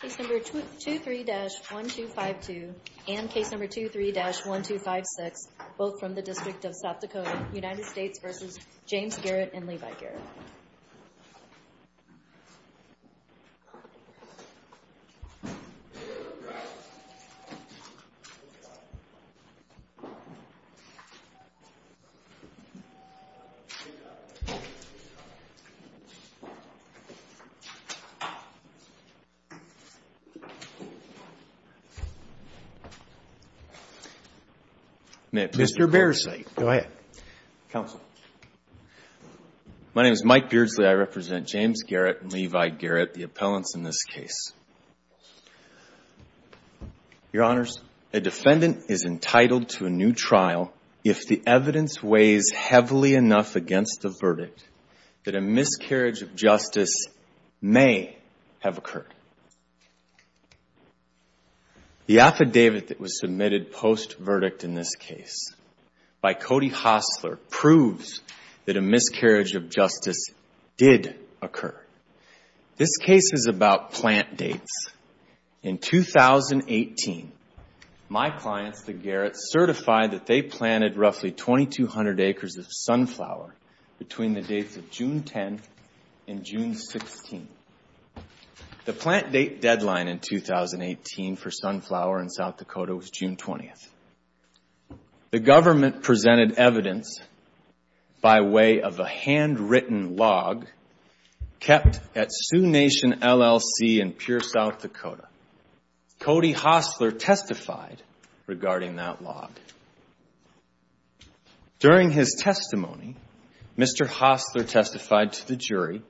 Case No. 23-1252 and Case No. 23-1256, both from the District of South Dakota, United States v. James Garrett and Levi Garrett. Mr. Beardsley. Go ahead. Counsel. My name is Mike Beardsley. I represent James Garrett and Levi Garrett, the appellants in this case. Your Honors, a defendant is entitled to a new trial if the evidence weighs heavily enough against the verdict that a miscarriage of justice may have occurred. The affidavit that was submitted post-verdict in this case by Cody Hostler proves that a miscarriage of justice did occur. This case is about plant dates. In 2018, my clients, the Garretts, certified that they planted roughly 2,200 acres of sunflower between the dates of June 10th and June 16th. The plant date deadline in 2018 for sunflower in South Dakota was June 20th. The government presented evidence by way of a handwritten log kept at Sioux Nation LLC in Pure South Dakota. Cody Hostler testified regarding that log. During his testimony, Mr. Hostler testified to the jury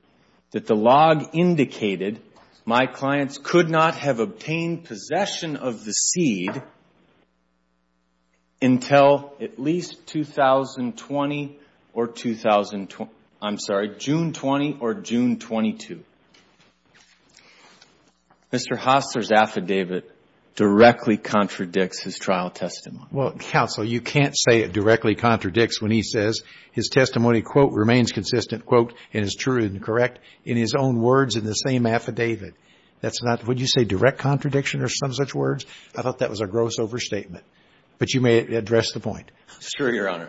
that the log indicated my clients could not have obtained possession of the seed until at least June 20 or June 22. Mr. Hostler's affidavit directly contradicts his trial testimony. Well, Counsel, you can't say it directly contradicts when he says his testimony, quote, remains consistent, quote, and is true and correct in his own words in the same affidavit. That's not, would you say direct contradiction or some such words? I thought that was a gross overstatement. But you may address the point.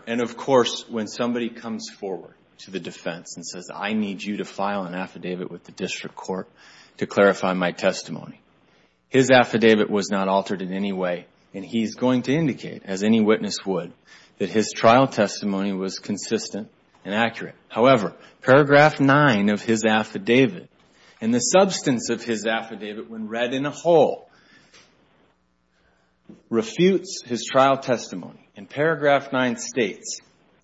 And of course, when somebody comes forward to the defense and says, I need you to file an affidavit with the district court to clarify my testimony, his affidavit was not altered in any way. And he's going to indicate, as any witness would, that his trial testimony was consistent and accurate. However, paragraph nine of his affidavit, and the substance of his affidavit when read in a whole, refutes his trial testimony. In paragraph nine states,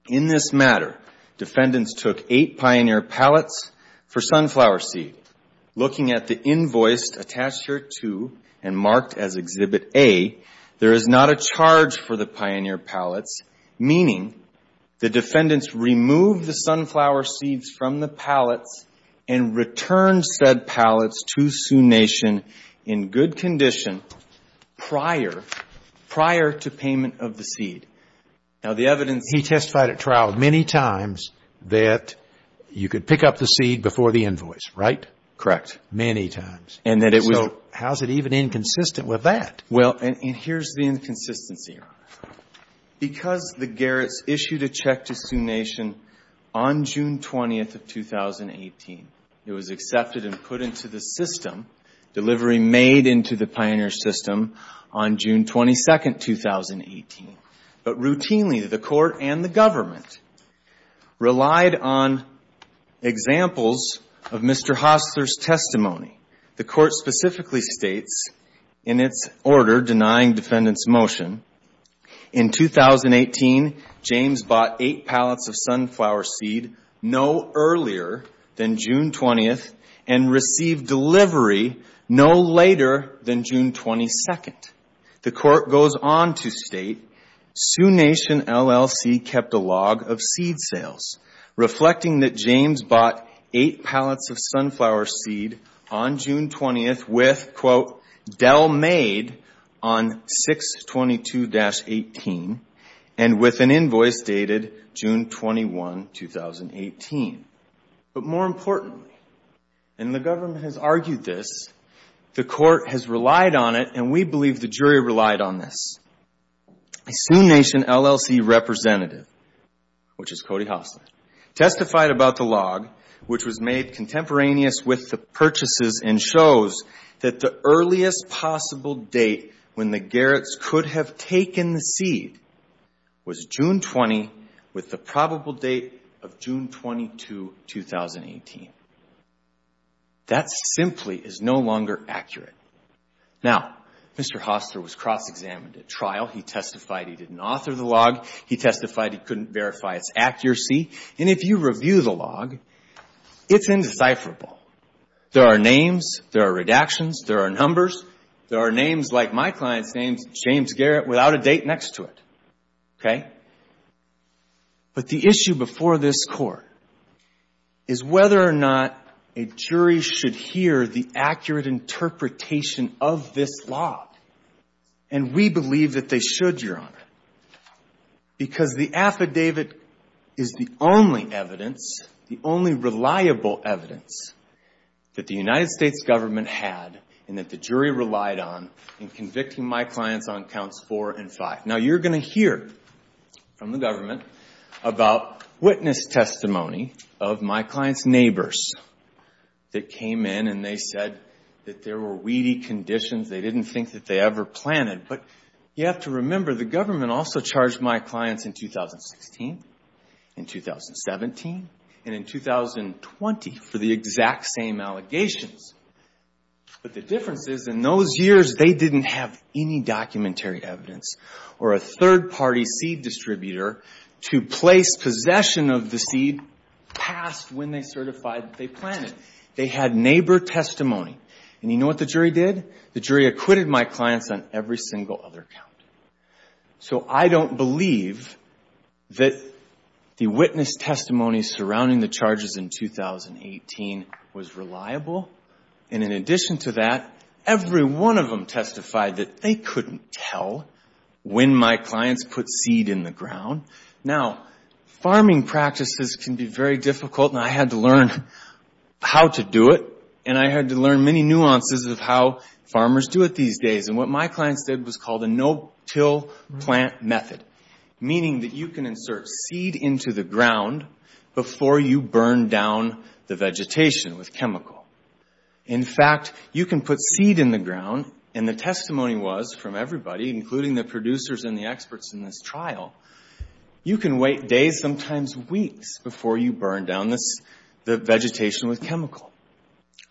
in this matter, defendants took eight pioneer pallets for sunflower seed. Looking at the invoice attached here to and marked as Exhibit A, there is not a charge for the pioneer pallets, meaning the defendants removed the sunflower seeds from the pallets and returned said pallets to Sioux Nation in good condition prior, prior to payment of the seed. Now, the evidence... He testified at trial many times that you could pick up the seed before the invoice, right? Correct. Many times. And that it was... So how's it even inconsistent with that? Well, and here's the inconsistency, Your Honor. But routinely, the court and the government relied on examples of Mr. Hostler's testimony. The court specifically states, in its order denying defendants' motion, in 2018, James bought eight pallets of sunflower seed no earlier than June 20th and received delivery no later than June 22nd. The court goes on to state, Sioux Nation LLC kept a log of seed sales, reflecting that James bought eight pallets of sunflower seed on June 20th with, quote, Dell made on 6-22-18 and with an invoice dated June 21, 2018. But more importantly, and the government has argued this, the court has relied on it and we believe the jury relied on this. A Sioux Nation LLC representative, which is Cody Hostler, testified about the log, which was made contemporaneous with the purchases and shows that the earliest possible date when the Garrett's could have taken the seed was June 20 with the probable date of June 22, 2018. That simply is no longer accurate. Now, Mr. Hostler was cross-examined at trial. He testified he didn't author the log. He testified he couldn't verify its accuracy. And if you review the log, it's indecipherable. There are names. There are redactions. There are numbers. There are names like my client's name, James Garrett, without a date next to it. Okay? But the issue before this court is whether or not a jury should hear the accurate interpretation of this log. And we believe that they should, Your Honor, because the affidavit is the only evidence, the only reliable evidence that the United States government had and that the jury relied on in convicting my clients on counts four and five. Now, you're going to hear from the government about witness testimony of my client's neighbors that came in and they said that there were weedy conditions. They didn't think that they ever planted. But you have to remember the government also charged my clients in 2016, in 2017, and in 2020 for the exact same allegations. But the difference is, in those years, they didn't have any documentary evidence or a third-party seed distributor to place possession of the seed past when they certified that they planted. They had neighbor testimony. And you know what the jury did? The jury acquitted my clients on every single other count. So I don't believe that the witness testimony surrounding the charges in 2018 was reliable. And in addition to that, every one of them testified that they couldn't tell when my clients put seed in the ground. Now, farming practices can be very difficult, and I had to learn how to do it. And I had to learn many nuances of how farmers do it these days. And what my clients did was called a no-till plant method, meaning that you can insert seed into the ground before you burn down the vegetation with chemical. In fact, you can put seed in the ground, and the testimony was from everybody, including the producers and the experts in this trial, you can wait days, sometimes weeks, before you burn down the vegetation with chemical.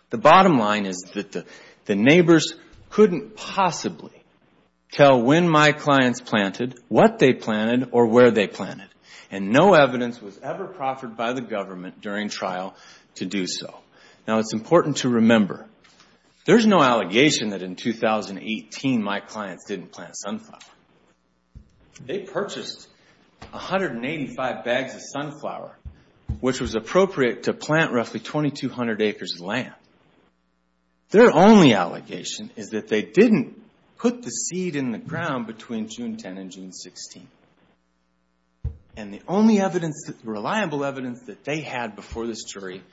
The bottom line is that the neighbors couldn't possibly tell when my clients planted, what they planted, or where they planted. And no evidence was ever proffered by the government during trial to do so. Now, it's important to remember, there's no allegation that in 2018 my clients didn't plant sunflower. They purchased 185 bags of sunflower, which was appropriate to plant roughly 2,200 acres of land. Their only allegation is that they didn't put the seed in the ground between June 10 and June 16. And the only reliable evidence that they had before this jury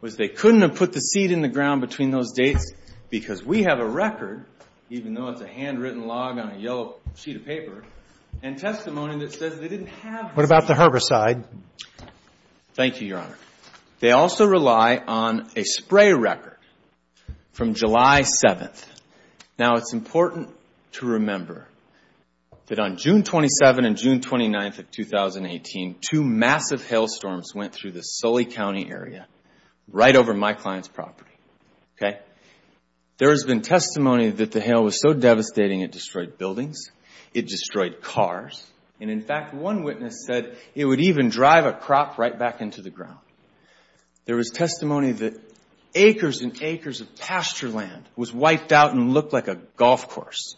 was they couldn't have put the seed in the ground between those dates, because we have a record, even though it's a handwritten log on a yellow sheet of paper, and testimony that says they didn't have the seed. What about the herbicide? Thank you, Your Honor. They also rely on a spray record from July 7. Now, it's important to remember that on June 27 and June 29 of 2018, two massive hailstorms went through the Sully County area, right over my client's property. Okay? There has been testimony that the hail was so devastating it destroyed buildings, it destroyed cars, and in fact, one witness said it would even drive a crop right back into the ground. There was testimony that acres and acres of pasture land was wiped out and looked like a golf course.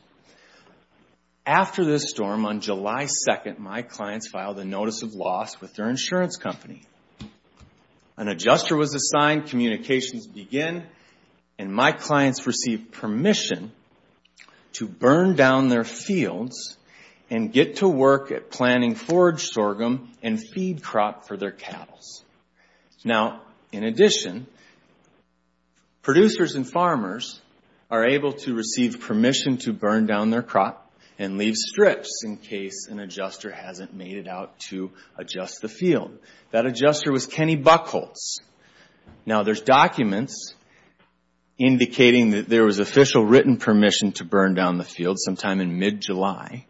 After this storm, on July 2, my clients filed a notice of loss with their insurance company. An adjuster was assigned, communications begin, and my clients receive permission to burn down their fields and get to work at planting forage sorghum and feed crop for their cattle. Now, in addition, producers and farmers are able to receive permission to burn down their crop and leave strips in case an adjuster hasn't made it out to adjust the field. That adjuster was Kenny Buchholz. Now, there's documents indicating that there was official written permission to burn down the field sometime in mid-July,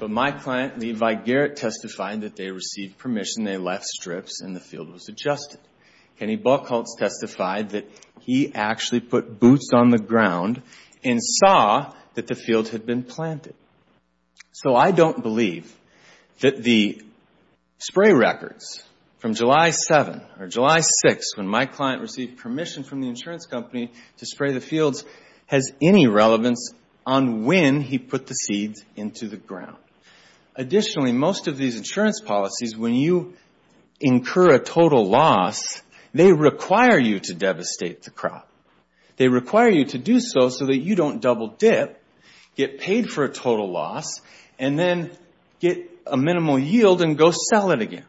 but my client, Levi Garrett, testified that they received permission, they left strips, and the field was adjusted. Kenny Buchholz testified that he actually put boots on the ground and saw that the field had been planted. So I don't believe that the spray records from July 7 or July 6, when my client received permission from the insurance company to spray the fields, has any relevance on when he put the seeds into the ground. Additionally, most of these insurance policies, when you incur a total loss, they require you to devastate the crop. They require you to do so so that you don't double dip, get paid for a total loss, and then get a minimal yield and go sell it again.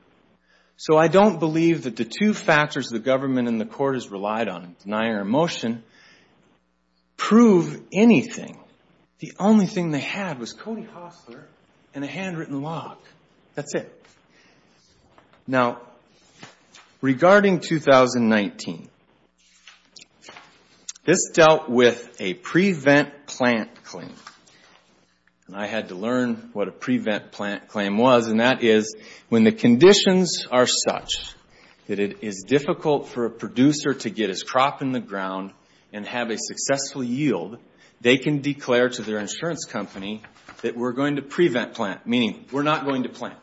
So I don't believe that the two factors the government and the court has relied on in denying our motion prove anything. The only thing they had was Cody Hostler and a handwritten log. That's it. Now, regarding 2019, this dealt with a prevent plant claim, and I had to learn what a prevent plant claim was, and that is when the conditions are such that it is difficult for a producer to get his crop in the ground and have a successful yield, they can declare to their insurance company that we're going to prevent plant, meaning we're not going to plant.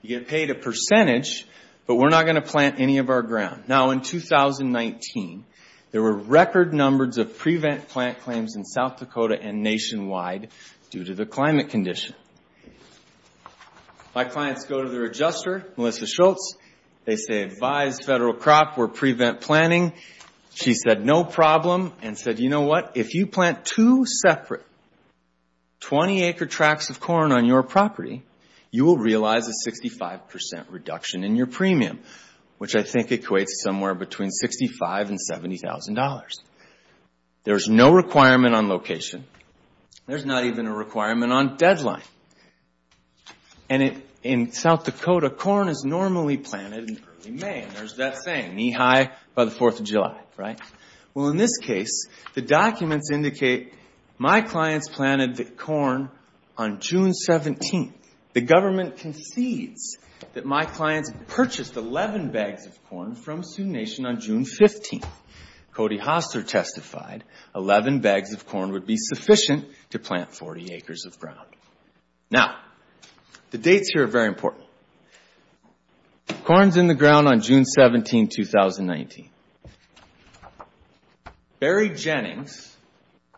You get paid a percentage, but we're not going to plant any of our ground. Now, in 2019, there were record numbers of prevent plant claims in South Dakota and nationwide due to the climate condition. My clients go to their adjuster, Melissa Schultz. They say, advise Federal Crop, we're prevent planting. She said, no problem, and said, you know what, if you plant two separate 20-acre tracks of corn on your property, you will realize a 65% reduction in your premium, which I think equates somewhere between $65,000 and $70,000. There's no requirement on location. There's not even a requirement on deadline. And in South Dakota, corn is normally planted in early May, and there's that saying, knee-high by the 4th of July, right? Well, in this case, the documents indicate my clients planted the corn on June 17th. The government concedes that my clients purchased 11 bags of corn from Sioux Nation on June 15th. Cody Hoster testified 11 bags of corn would be sufficient to plant 40 acres of ground. Now, the dates here are very important. Corn's in the ground on June 17, 2019. Barry Jennings,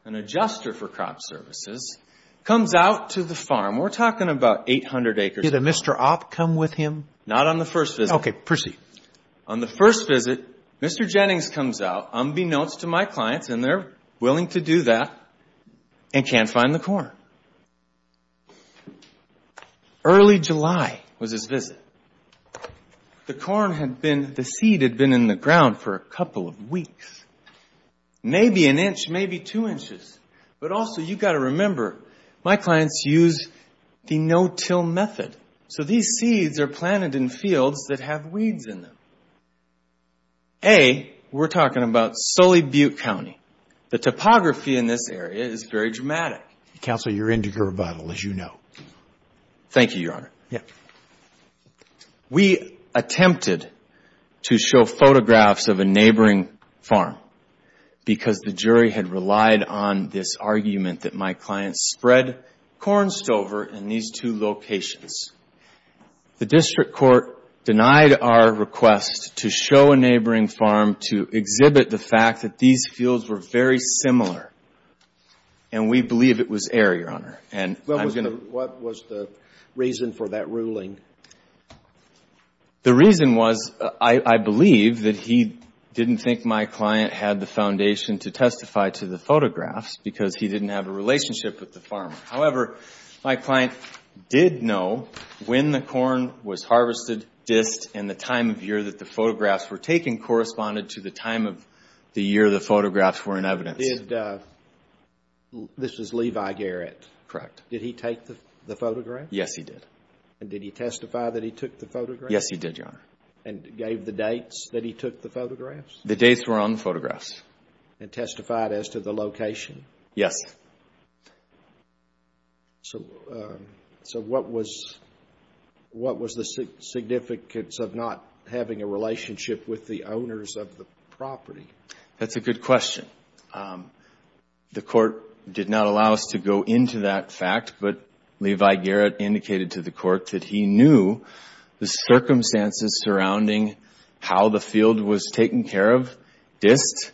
an adjuster for crop services, comes out to the farm. We're talking about 800 acres. Did a Mr. Opp come with him? Not on the first visit. Okay, proceed. On the first visit, Mr. Jennings comes out, unbeknownst to my clients, and they're willing to do that, and can't find the corn. Early July was his visit. The seed had been in the ground for a couple of weeks. Maybe an inch, maybe two inches. But also, you've got to remember, my clients use the no-till method. So these seeds are planted in fields that have weeds in them. A, we're talking about Sully Butte County. The topography in this area is very dramatic. Counsel, you're into your rebuttal, as you know. Thank you, Your Honor. Yeah. We attempted to show photographs of a neighboring farm because the jury had relied on this argument that my clients spread corn stover in these two locations. The district court denied our request to show a neighboring farm to exhibit the fact that these fields were very similar. And we believe it was error, Your Honor. What was the reason for that ruling? The reason was, I believe, that he didn't think my client had the foundation to testify to the photographs because he didn't have a relationship with the farmer. However, my client did know when the corn was harvested, dist, and the time of year that the photographs were taken, corresponded to the time of the year the photographs were in evidence. This is Levi Garrett. Correct. Did he take the photographs? Yes, he did. And did he testify that he took the photographs? Yes, he did, Your Honor. And gave the dates that he took the photographs? The dates were on the photographs. And testified as to the location? Yes. So what was the significance of not having a relationship with the owners of the property? That's a good question. The court did not allow us to go into that fact, but Levi Garrett indicated to the court that he knew the circumstances surrounding how the field was taken care of, dist,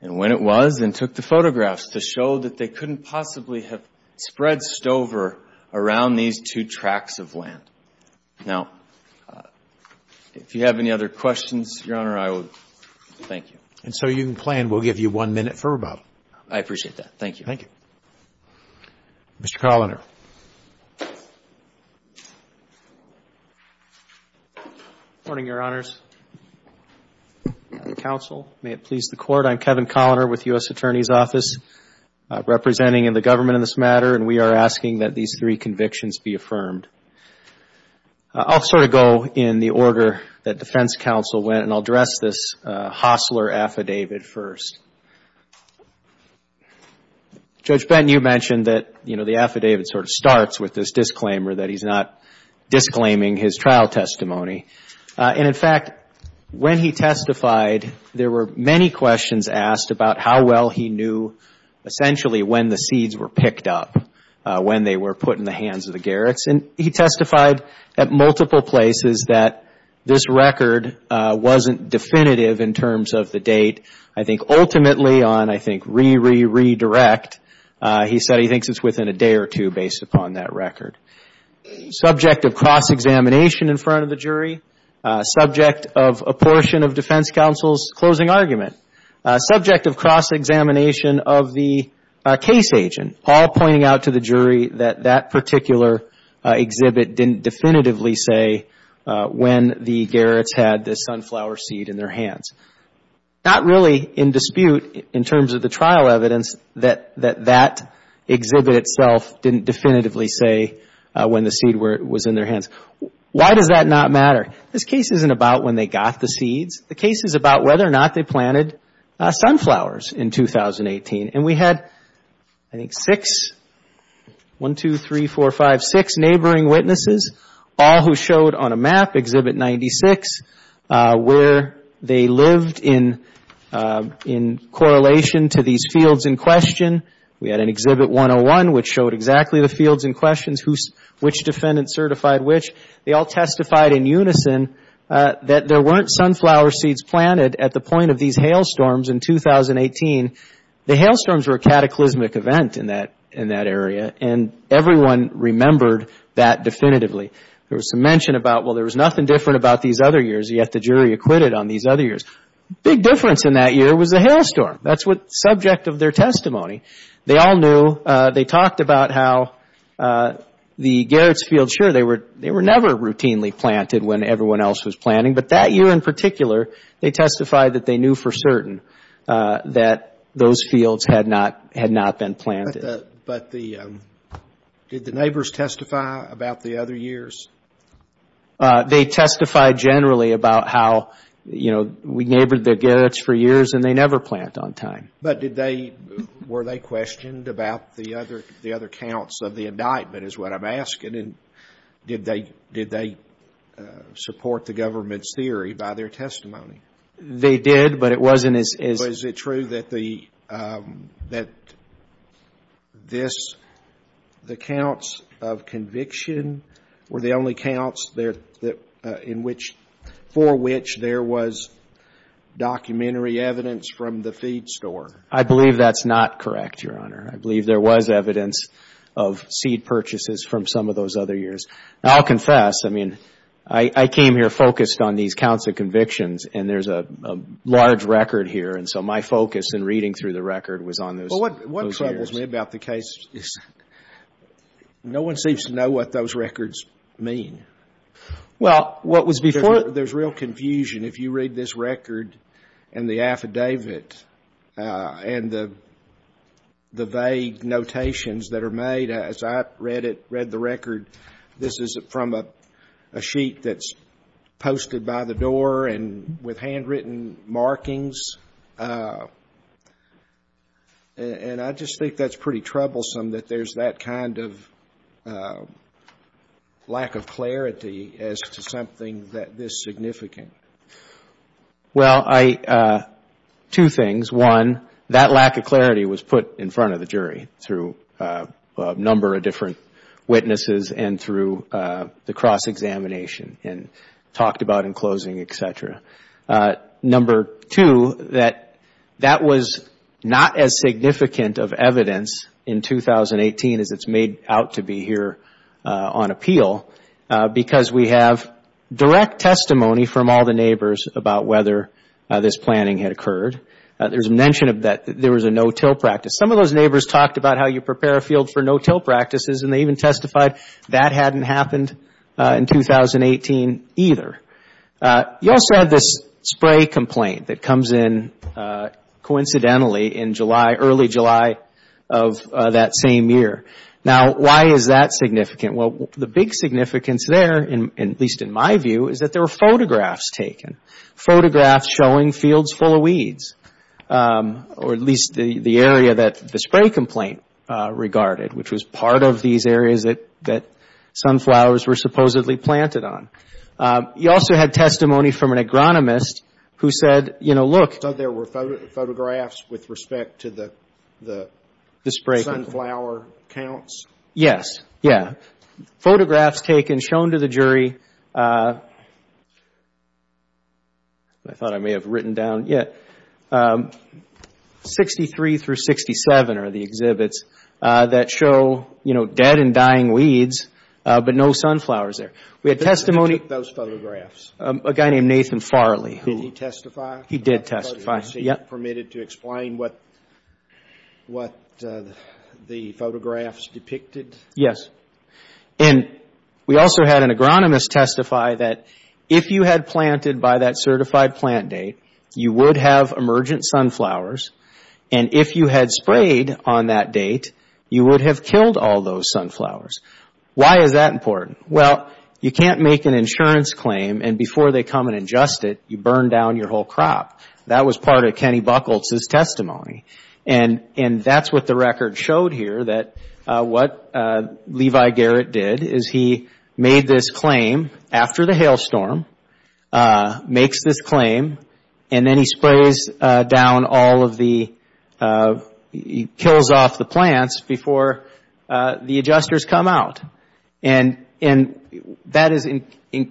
and when it was, and took the photographs to show that they couldn't possibly have spread stover around these two tracks of land. Now, if you have any other questions, Your Honor, I will thank you. And so you can plan. We'll give you one minute for rebuttal. I appreciate that. Thank you. Thank you. Mr. Coloner. Good morning, Your Honors. Counsel, may it please the Court. I'm Kevin Coloner with the U.S. Attorney's Office, representing the government in this matter, and we are asking that these three convictions be affirmed. I'll sort of go in the order that defense counsel went, and I'll address this Hossler affidavit first. Judge Benton, you mentioned that, you know, the affidavit sort of starts with this disclaimer, that he's not disclaiming his trial testimony. And, in fact, when he testified, there were many questions asked about how well he knew, essentially, when the seeds were picked up, when they were put in the hands of the Garrets. And he testified at multiple places that this record wasn't definitive in terms of the date. I think ultimately on, I think, re-re-redirect, he said he thinks it's within a day or two based upon that record. Subject of cross-examination in front of the jury, subject of apportion of defense counsel's closing argument, subject of cross-examination of the case agent, all pointing out to the jury that that particular exhibit didn't definitively say when the Garrets had the sunflower seed in their hands. Not really in dispute in terms of the trial evidence that that exhibit itself didn't definitively say when the seed was in their hands. Why does that not matter? This case isn't about when they got the seeds. The case is about whether or not they planted sunflowers in 2018. And we had, I think, six, one, two, three, four, five, six neighboring witnesses, all who showed on a map, Exhibit 96, where they lived in correlation to these fields in question. We had an Exhibit 101, which showed exactly the fields in question, which defendant certified which. They all testified in unison that there weren't sunflower seeds planted at the point of these hailstorms in 2018. The hailstorms were a cataclysmic event in that area, and everyone remembered that definitively. There was some mention about, well, there was nothing different about these other years, yet the jury acquitted on these other years. Big difference in that year was the hailstorm. That's the subject of their testimony. They all knew. They talked about how the Gerritz fields, sure, they were never routinely planted when everyone else was planting. But that year in particular, they testified that they knew for certain that those fields had not been planted. But did the neighbors testify about the other years? They testified generally about how, you know, we neighbored the Gerritz for years, and they never plant on time. But did they — were they questioned about the other counts of the indictment is what I'm asking. And did they support the government's theory by their testimony? They did, but it wasn't as — But is it true that this, the counts of conviction, were the only counts for which there was documentary evidence from the feed store? I believe that's not correct, Your Honor. I believe there was evidence of seed purchases from some of those other years. I'll confess. I mean, I came here focused on these counts of convictions, and there's a large record here. And so my focus in reading through the record was on those years. Well, what troubles me about the case is no one seems to know what those records mean. Well, what was before it — There's real confusion if you read this record and the affidavit and the vague notations that are made. As I read it, read the record, this is from a sheet that's posted by the door and with handwritten markings. And I just think that's pretty troublesome that there's that kind of lack of clarity as to something that this significant. Well, I — two things. One, that lack of clarity was put in front of the jury through a number of different witnesses and through the cross-examination and talked about in closing, et cetera. Number two, that that was not as significant of evidence in 2018 as it's made out to be here on appeal, because we have direct testimony from all the neighbors about whether this planning had occurred. There's mention that there was a no-till practice. Some of those neighbors talked about how you prepare a field for no-till practices, and they even testified that hadn't happened in 2018 either. You also had this spray complaint that comes in coincidentally in July, early July of that same year. Now, why is that significant? Well, the big significance there, at least in my view, is that there were photographs taken, photographs showing fields full of weeds, or at least the area that the spray complaint regarded, which was part of these areas that sunflowers were supposedly planted on. You also had testimony from an agronomist who said, you know, look. So there were photographs with respect to the sunflower counts? Yes. Yeah. Photographs taken, shown to the jury. I thought I may have written down. Yeah. 63 through 67 are the exhibits that show, you know, dead and dying weeds, but no sunflowers there. Who took those photographs? A guy named Nathan Farley. Did he testify? He did testify. Was he permitted to explain what the photographs depicted? Yes. And we also had an agronomist testify that if you had planted by that certified plant date, you would have emergent sunflowers, and if you had sprayed on that date, you would have killed all those sunflowers. Why is that important? Well, you can't make an insurance claim, and before they come and adjust it, you burn down your whole crop. That was part of Kenny Bucholtz's testimony, and that's what the record showed here that what Levi Garrett did is he made this claim after the hailstorm, makes this claim, and then he sprays down all of the, he kills off the plants before the adjusters come out. And that is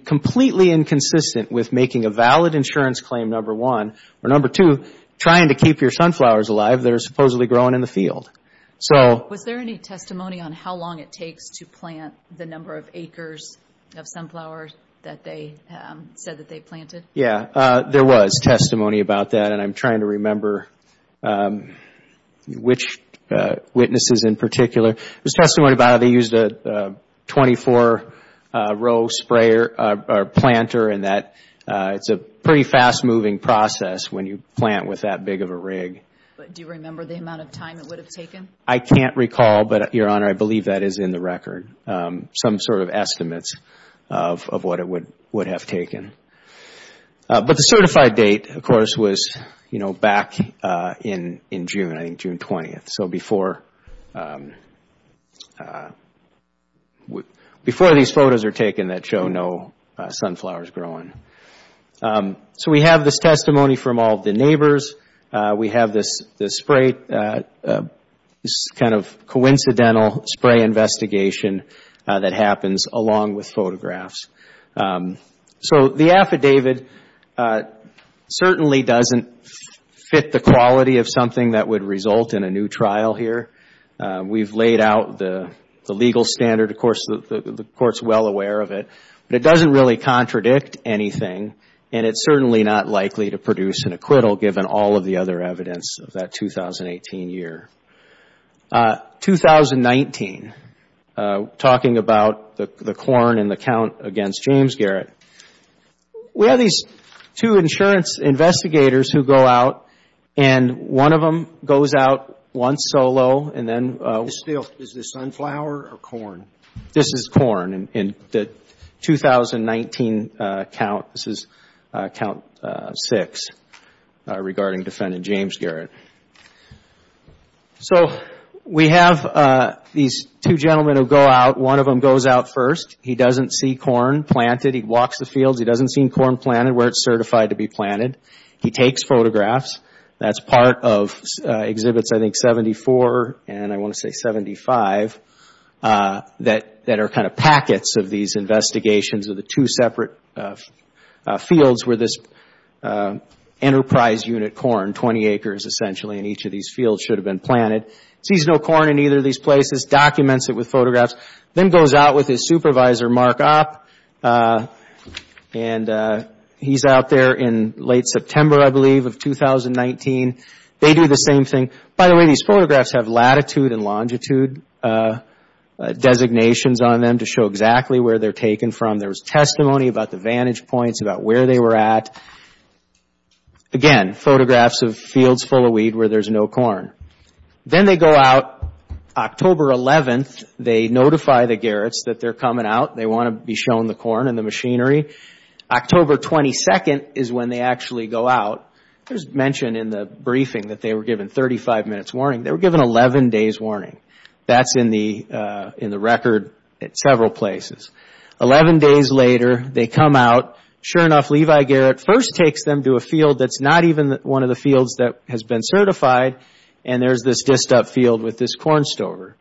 completely inconsistent with making a valid insurance claim, number one, or number two, trying to keep your sunflowers alive that are supposedly growing in the field. Was there any testimony on how long it takes to plant the number of acres of sunflowers that they said that they planted? Yeah. There was testimony about that, and I'm trying to remember which witnesses in particular. There was testimony about how they used a 24-row planter, and it's a pretty fast-moving process when you plant with that big of a rig. Do you remember the amount of time it would have taken? I can't recall, but, Your Honor, I believe that is in the record, some sort of estimates of what it would have taken. But the certified date, of course, was back in June, I think June 20th. So before these photos are taken that show no sunflowers growing. So we have this testimony from all of the neighbors. We have this kind of coincidental spray investigation that happens along with photographs. So the affidavit certainly doesn't fit the quality of something that would result in a new trial here. We've laid out the legal standard. Of course, the Court's well aware of it. But it doesn't really contradict anything, and it's certainly not likely to produce an acquittal, given all of the other evidence of that 2018 year. 2019, talking about the corn and the count against James Garrett. We have these two insurance investigators who go out, and one of them goes out once solo, and then — Is this sunflower or corn? This is corn. In the 2019 count, this is count six regarding defendant James Garrett. So we have these two gentlemen who go out. One of them goes out first. He doesn't see corn planted. He walks the fields. He doesn't see corn planted where it's certified to be planted. He takes photographs. That's part of Exhibits, I think, 74 and I want to say 75, that are kind of packets of these investigations of the two separate fields where this enterprise unit corn, 20 acres essentially, in each of these fields should have been planted. He sees no corn in either of these places, documents it with photographs, then goes out with his supervisor, Mark Opp. And he's out there in late September, I believe, of 2019. They do the same thing. By the way, these photographs have latitude and longitude designations on them to show exactly where they're taken from. There's testimony about the vantage points, about where they were at. Again, photographs of fields full of weed where there's no corn. Then they go out October 11th. They notify the Garretts that they're coming out. They want to be shown the corn and the machinery. October 22nd is when they actually go out. There's mention in the briefing that they were given 35 minutes warning. They were given 11 days warning. That's in the record at several places. Eleven days later, they come out. Sure enough, Levi Garrett first takes them to a field that's not even one of the fields that has been certified, and there's this disced up field with this corn stover.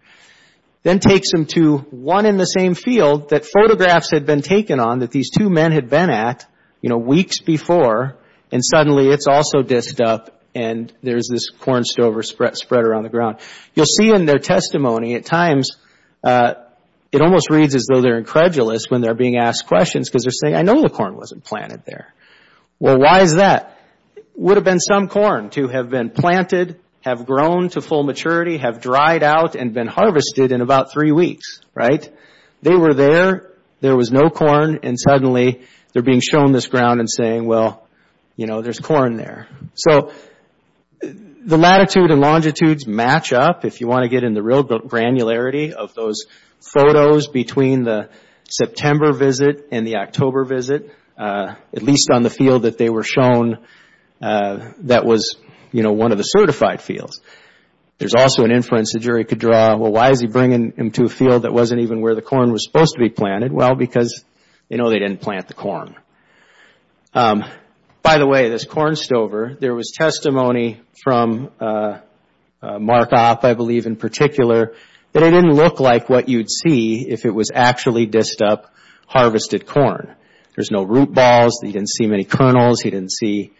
Then takes them to one in the same field that photographs had been taken on that these two men had been at weeks before, and suddenly it's also disced up and there's this corn stover spread around the ground. You'll see in their testimony at times it almost reads as though they're incredulous when they're being asked questions because they're saying, I know the corn wasn't planted there. Well, why is that? It would have been some corn to have been planted, have grown to full maturity, have dried out and been harvested in about three weeks. They were there, there was no corn, and suddenly they're being shown this ground and saying, well, there's corn there. So the latitude and longitudes match up if you want to get in the real granularity of those photos between the September visit and the October visit, at least on the field that they were shown that was one of the certified fields. There's also an inference the jury could draw, well, why is he bringing them to a field that wasn't even where the corn was supposed to be planted? Well, because they know they didn't plant the corn. By the way, this corn stover, there was testimony from Mark Opp, I believe in particular, that it didn't look like what you'd see if it was actually disced up harvested corn. There's no root balls, he didn't see many kernels, he didn't see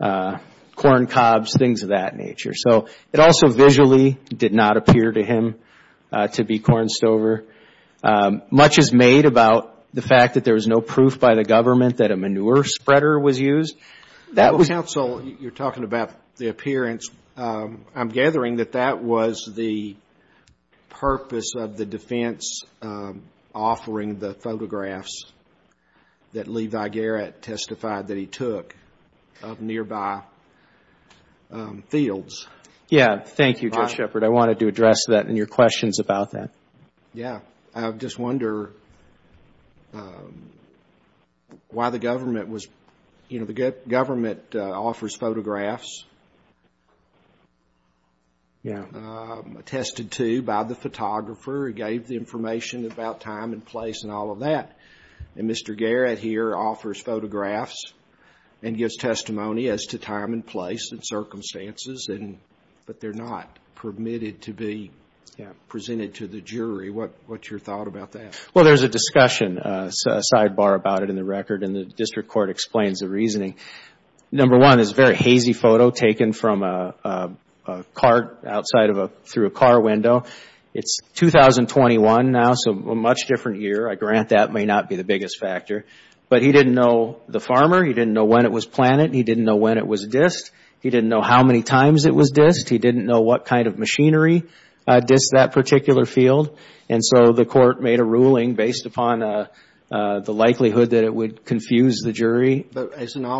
corn cobs, things of that nature. So it also visually did not appear to him to be corn stover. Much is made about the fact that there was no proof by the government that a manure spreader was used. Counsel, you're talking about the appearance. I'm gathering that that was the purpose of the defense offering the photographs that Levi Garrett testified that he took of nearby fields. Yeah. Thank you, Judge Shepard. I wanted to address that and your questions about that. Yeah. I just wonder why the government was, you know, the government offers photographs. Yeah. Attested to by the photographer who gave the information about time and place and all of that. And Mr. Garrett here offers photographs and gives testimony as to time and place and circumstances, but they're not permitted to be presented to the jury. What's your thought about that? Well, there's a discussion, a sidebar about it in the record, and the district court explains the reasoning. Number one, it's a very hazy photo taken from a cart outside through a car window. It's 2021 now, so a much different year. I grant that may not be the biggest factor. But he didn't know the farmer. He didn't know when it was planted. He didn't know when it was dissed. He didn't know how many times it was dissed. He didn't know what kind of machinery dissed that particular field. But doesn't all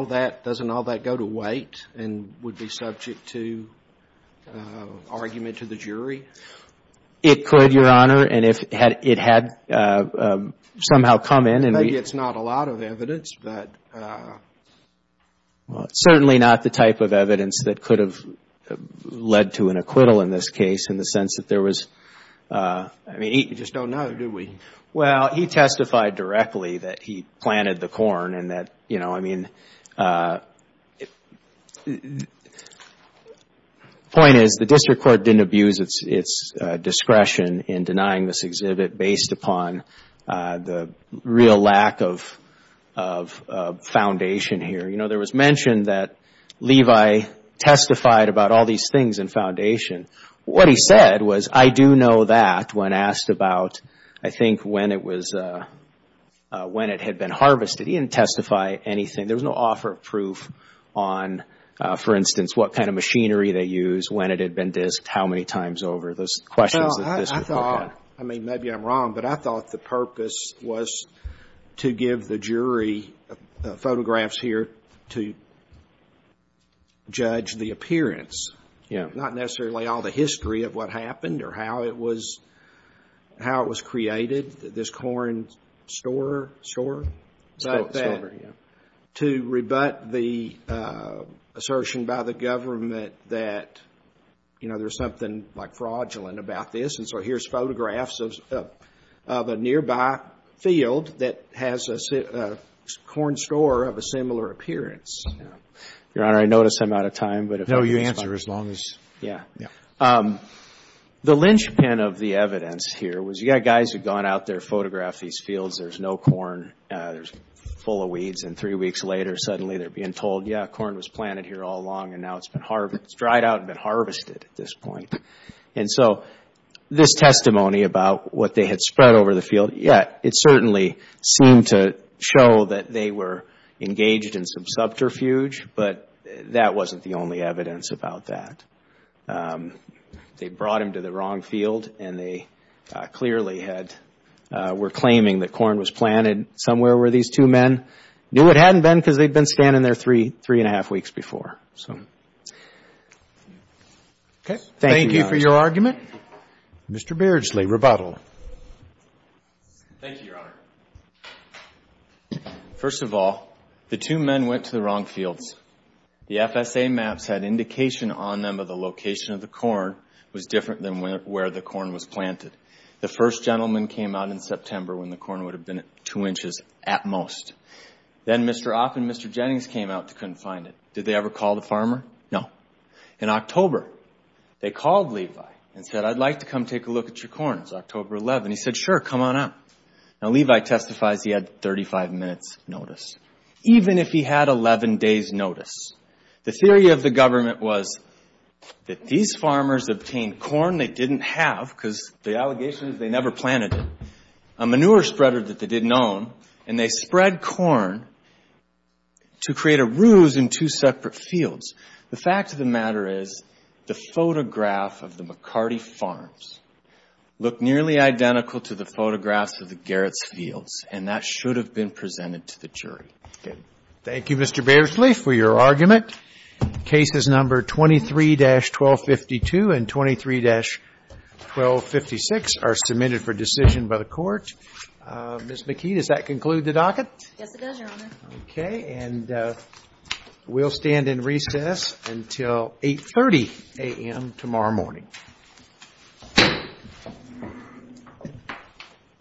that go to weight and would be subject to argument to the jury? It could, Your Honor, and it had somehow come in. Maybe it's not a lot of evidence, but... Well, it's certainly not the type of evidence that could have led to an acquittal in this case in the sense that there was... I mean, you just don't know, do we? Well, he testified directly that he planted the corn and that, you know, I mean... The point is the district court didn't abuse its discretion in denying this exhibit based upon the real lack of foundation here. You know, there was mention that Levi testified about all these things in foundation. What he said was, I do know that when asked about, I think, when it was... when it had been harvested. He didn't testify anything. There was no offer of proof on, for instance, what kind of machinery they used, when it had been dissed, how many times over. Those questions... Well, I thought... I mean, maybe I'm wrong, but I thought the purpose was to give the jury photographs here to judge the appearance. Yeah. Not necessarily all the history of what happened or how it was... how it was created, this corn store... Store. Store. Store, yeah. To rebut the assertion by the government that, you know, there's something, like, fraudulent about this. And so here's photographs of a nearby field that has a corn store of a similar appearance. Yeah. Your Honor, I notice I'm out of time, but if... Yeah. Yeah. The linchpin of the evidence here was you've got guys who've gone out there, photographed these fields, there's no corn, they're full of weeds, and three weeks later, suddenly they're being told, yeah, corn was planted here all along and now it's been harvested. It's dried out and been harvested at this point. And so this testimony about what they had spread over the field, yeah, it certainly seemed to show that they were engaged in some subterfuge, but that wasn't the only evidence about that. They brought him to the wrong field and they clearly were claiming that corn was planted somewhere where these two men knew it hadn't been because they'd been standing there three and a half weeks before, so... Okay. Thank you, Your Honor. Thank you for your argument. Mr. Beardsley, rebuttal. Thank you, Your Honor. First of all, the two men went to the wrong fields. The FSA maps had indication on them that the location of the corn was different than where the corn was planted. The first gentleman came out in September when the corn would have been at two inches at most. Then Mr. Opp and Mr. Jennings came out and couldn't find it. Did they ever call the farmer? No. In October, they called Levi and said, I'd like to come take a look at your corn. It was October 11. He said, sure, come on up. Now, Levi testifies he had 35 minutes' notice, even if he had 11 days' notice. The theory of the government was that these farmers obtained corn they didn't have because the allegation is they never planted it, a manure spreader that they didn't own, and they spread corn to create a ruse in two separate fields. The fact of the matter is the photograph of the McCarty farms look nearly identical to the photographs of the Garrett's fields, and that should have been presented to the jury. Thank you, Mr. Batesley, for your argument. Cases number 23-1252 and 23-1256 are submitted for decision by the Court. Ms. McKee, does that conclude the docket? Yes, it does, Your Honor. Okay, and we'll stand in recess until 8.30 a.m. tomorrow morning. Thank you.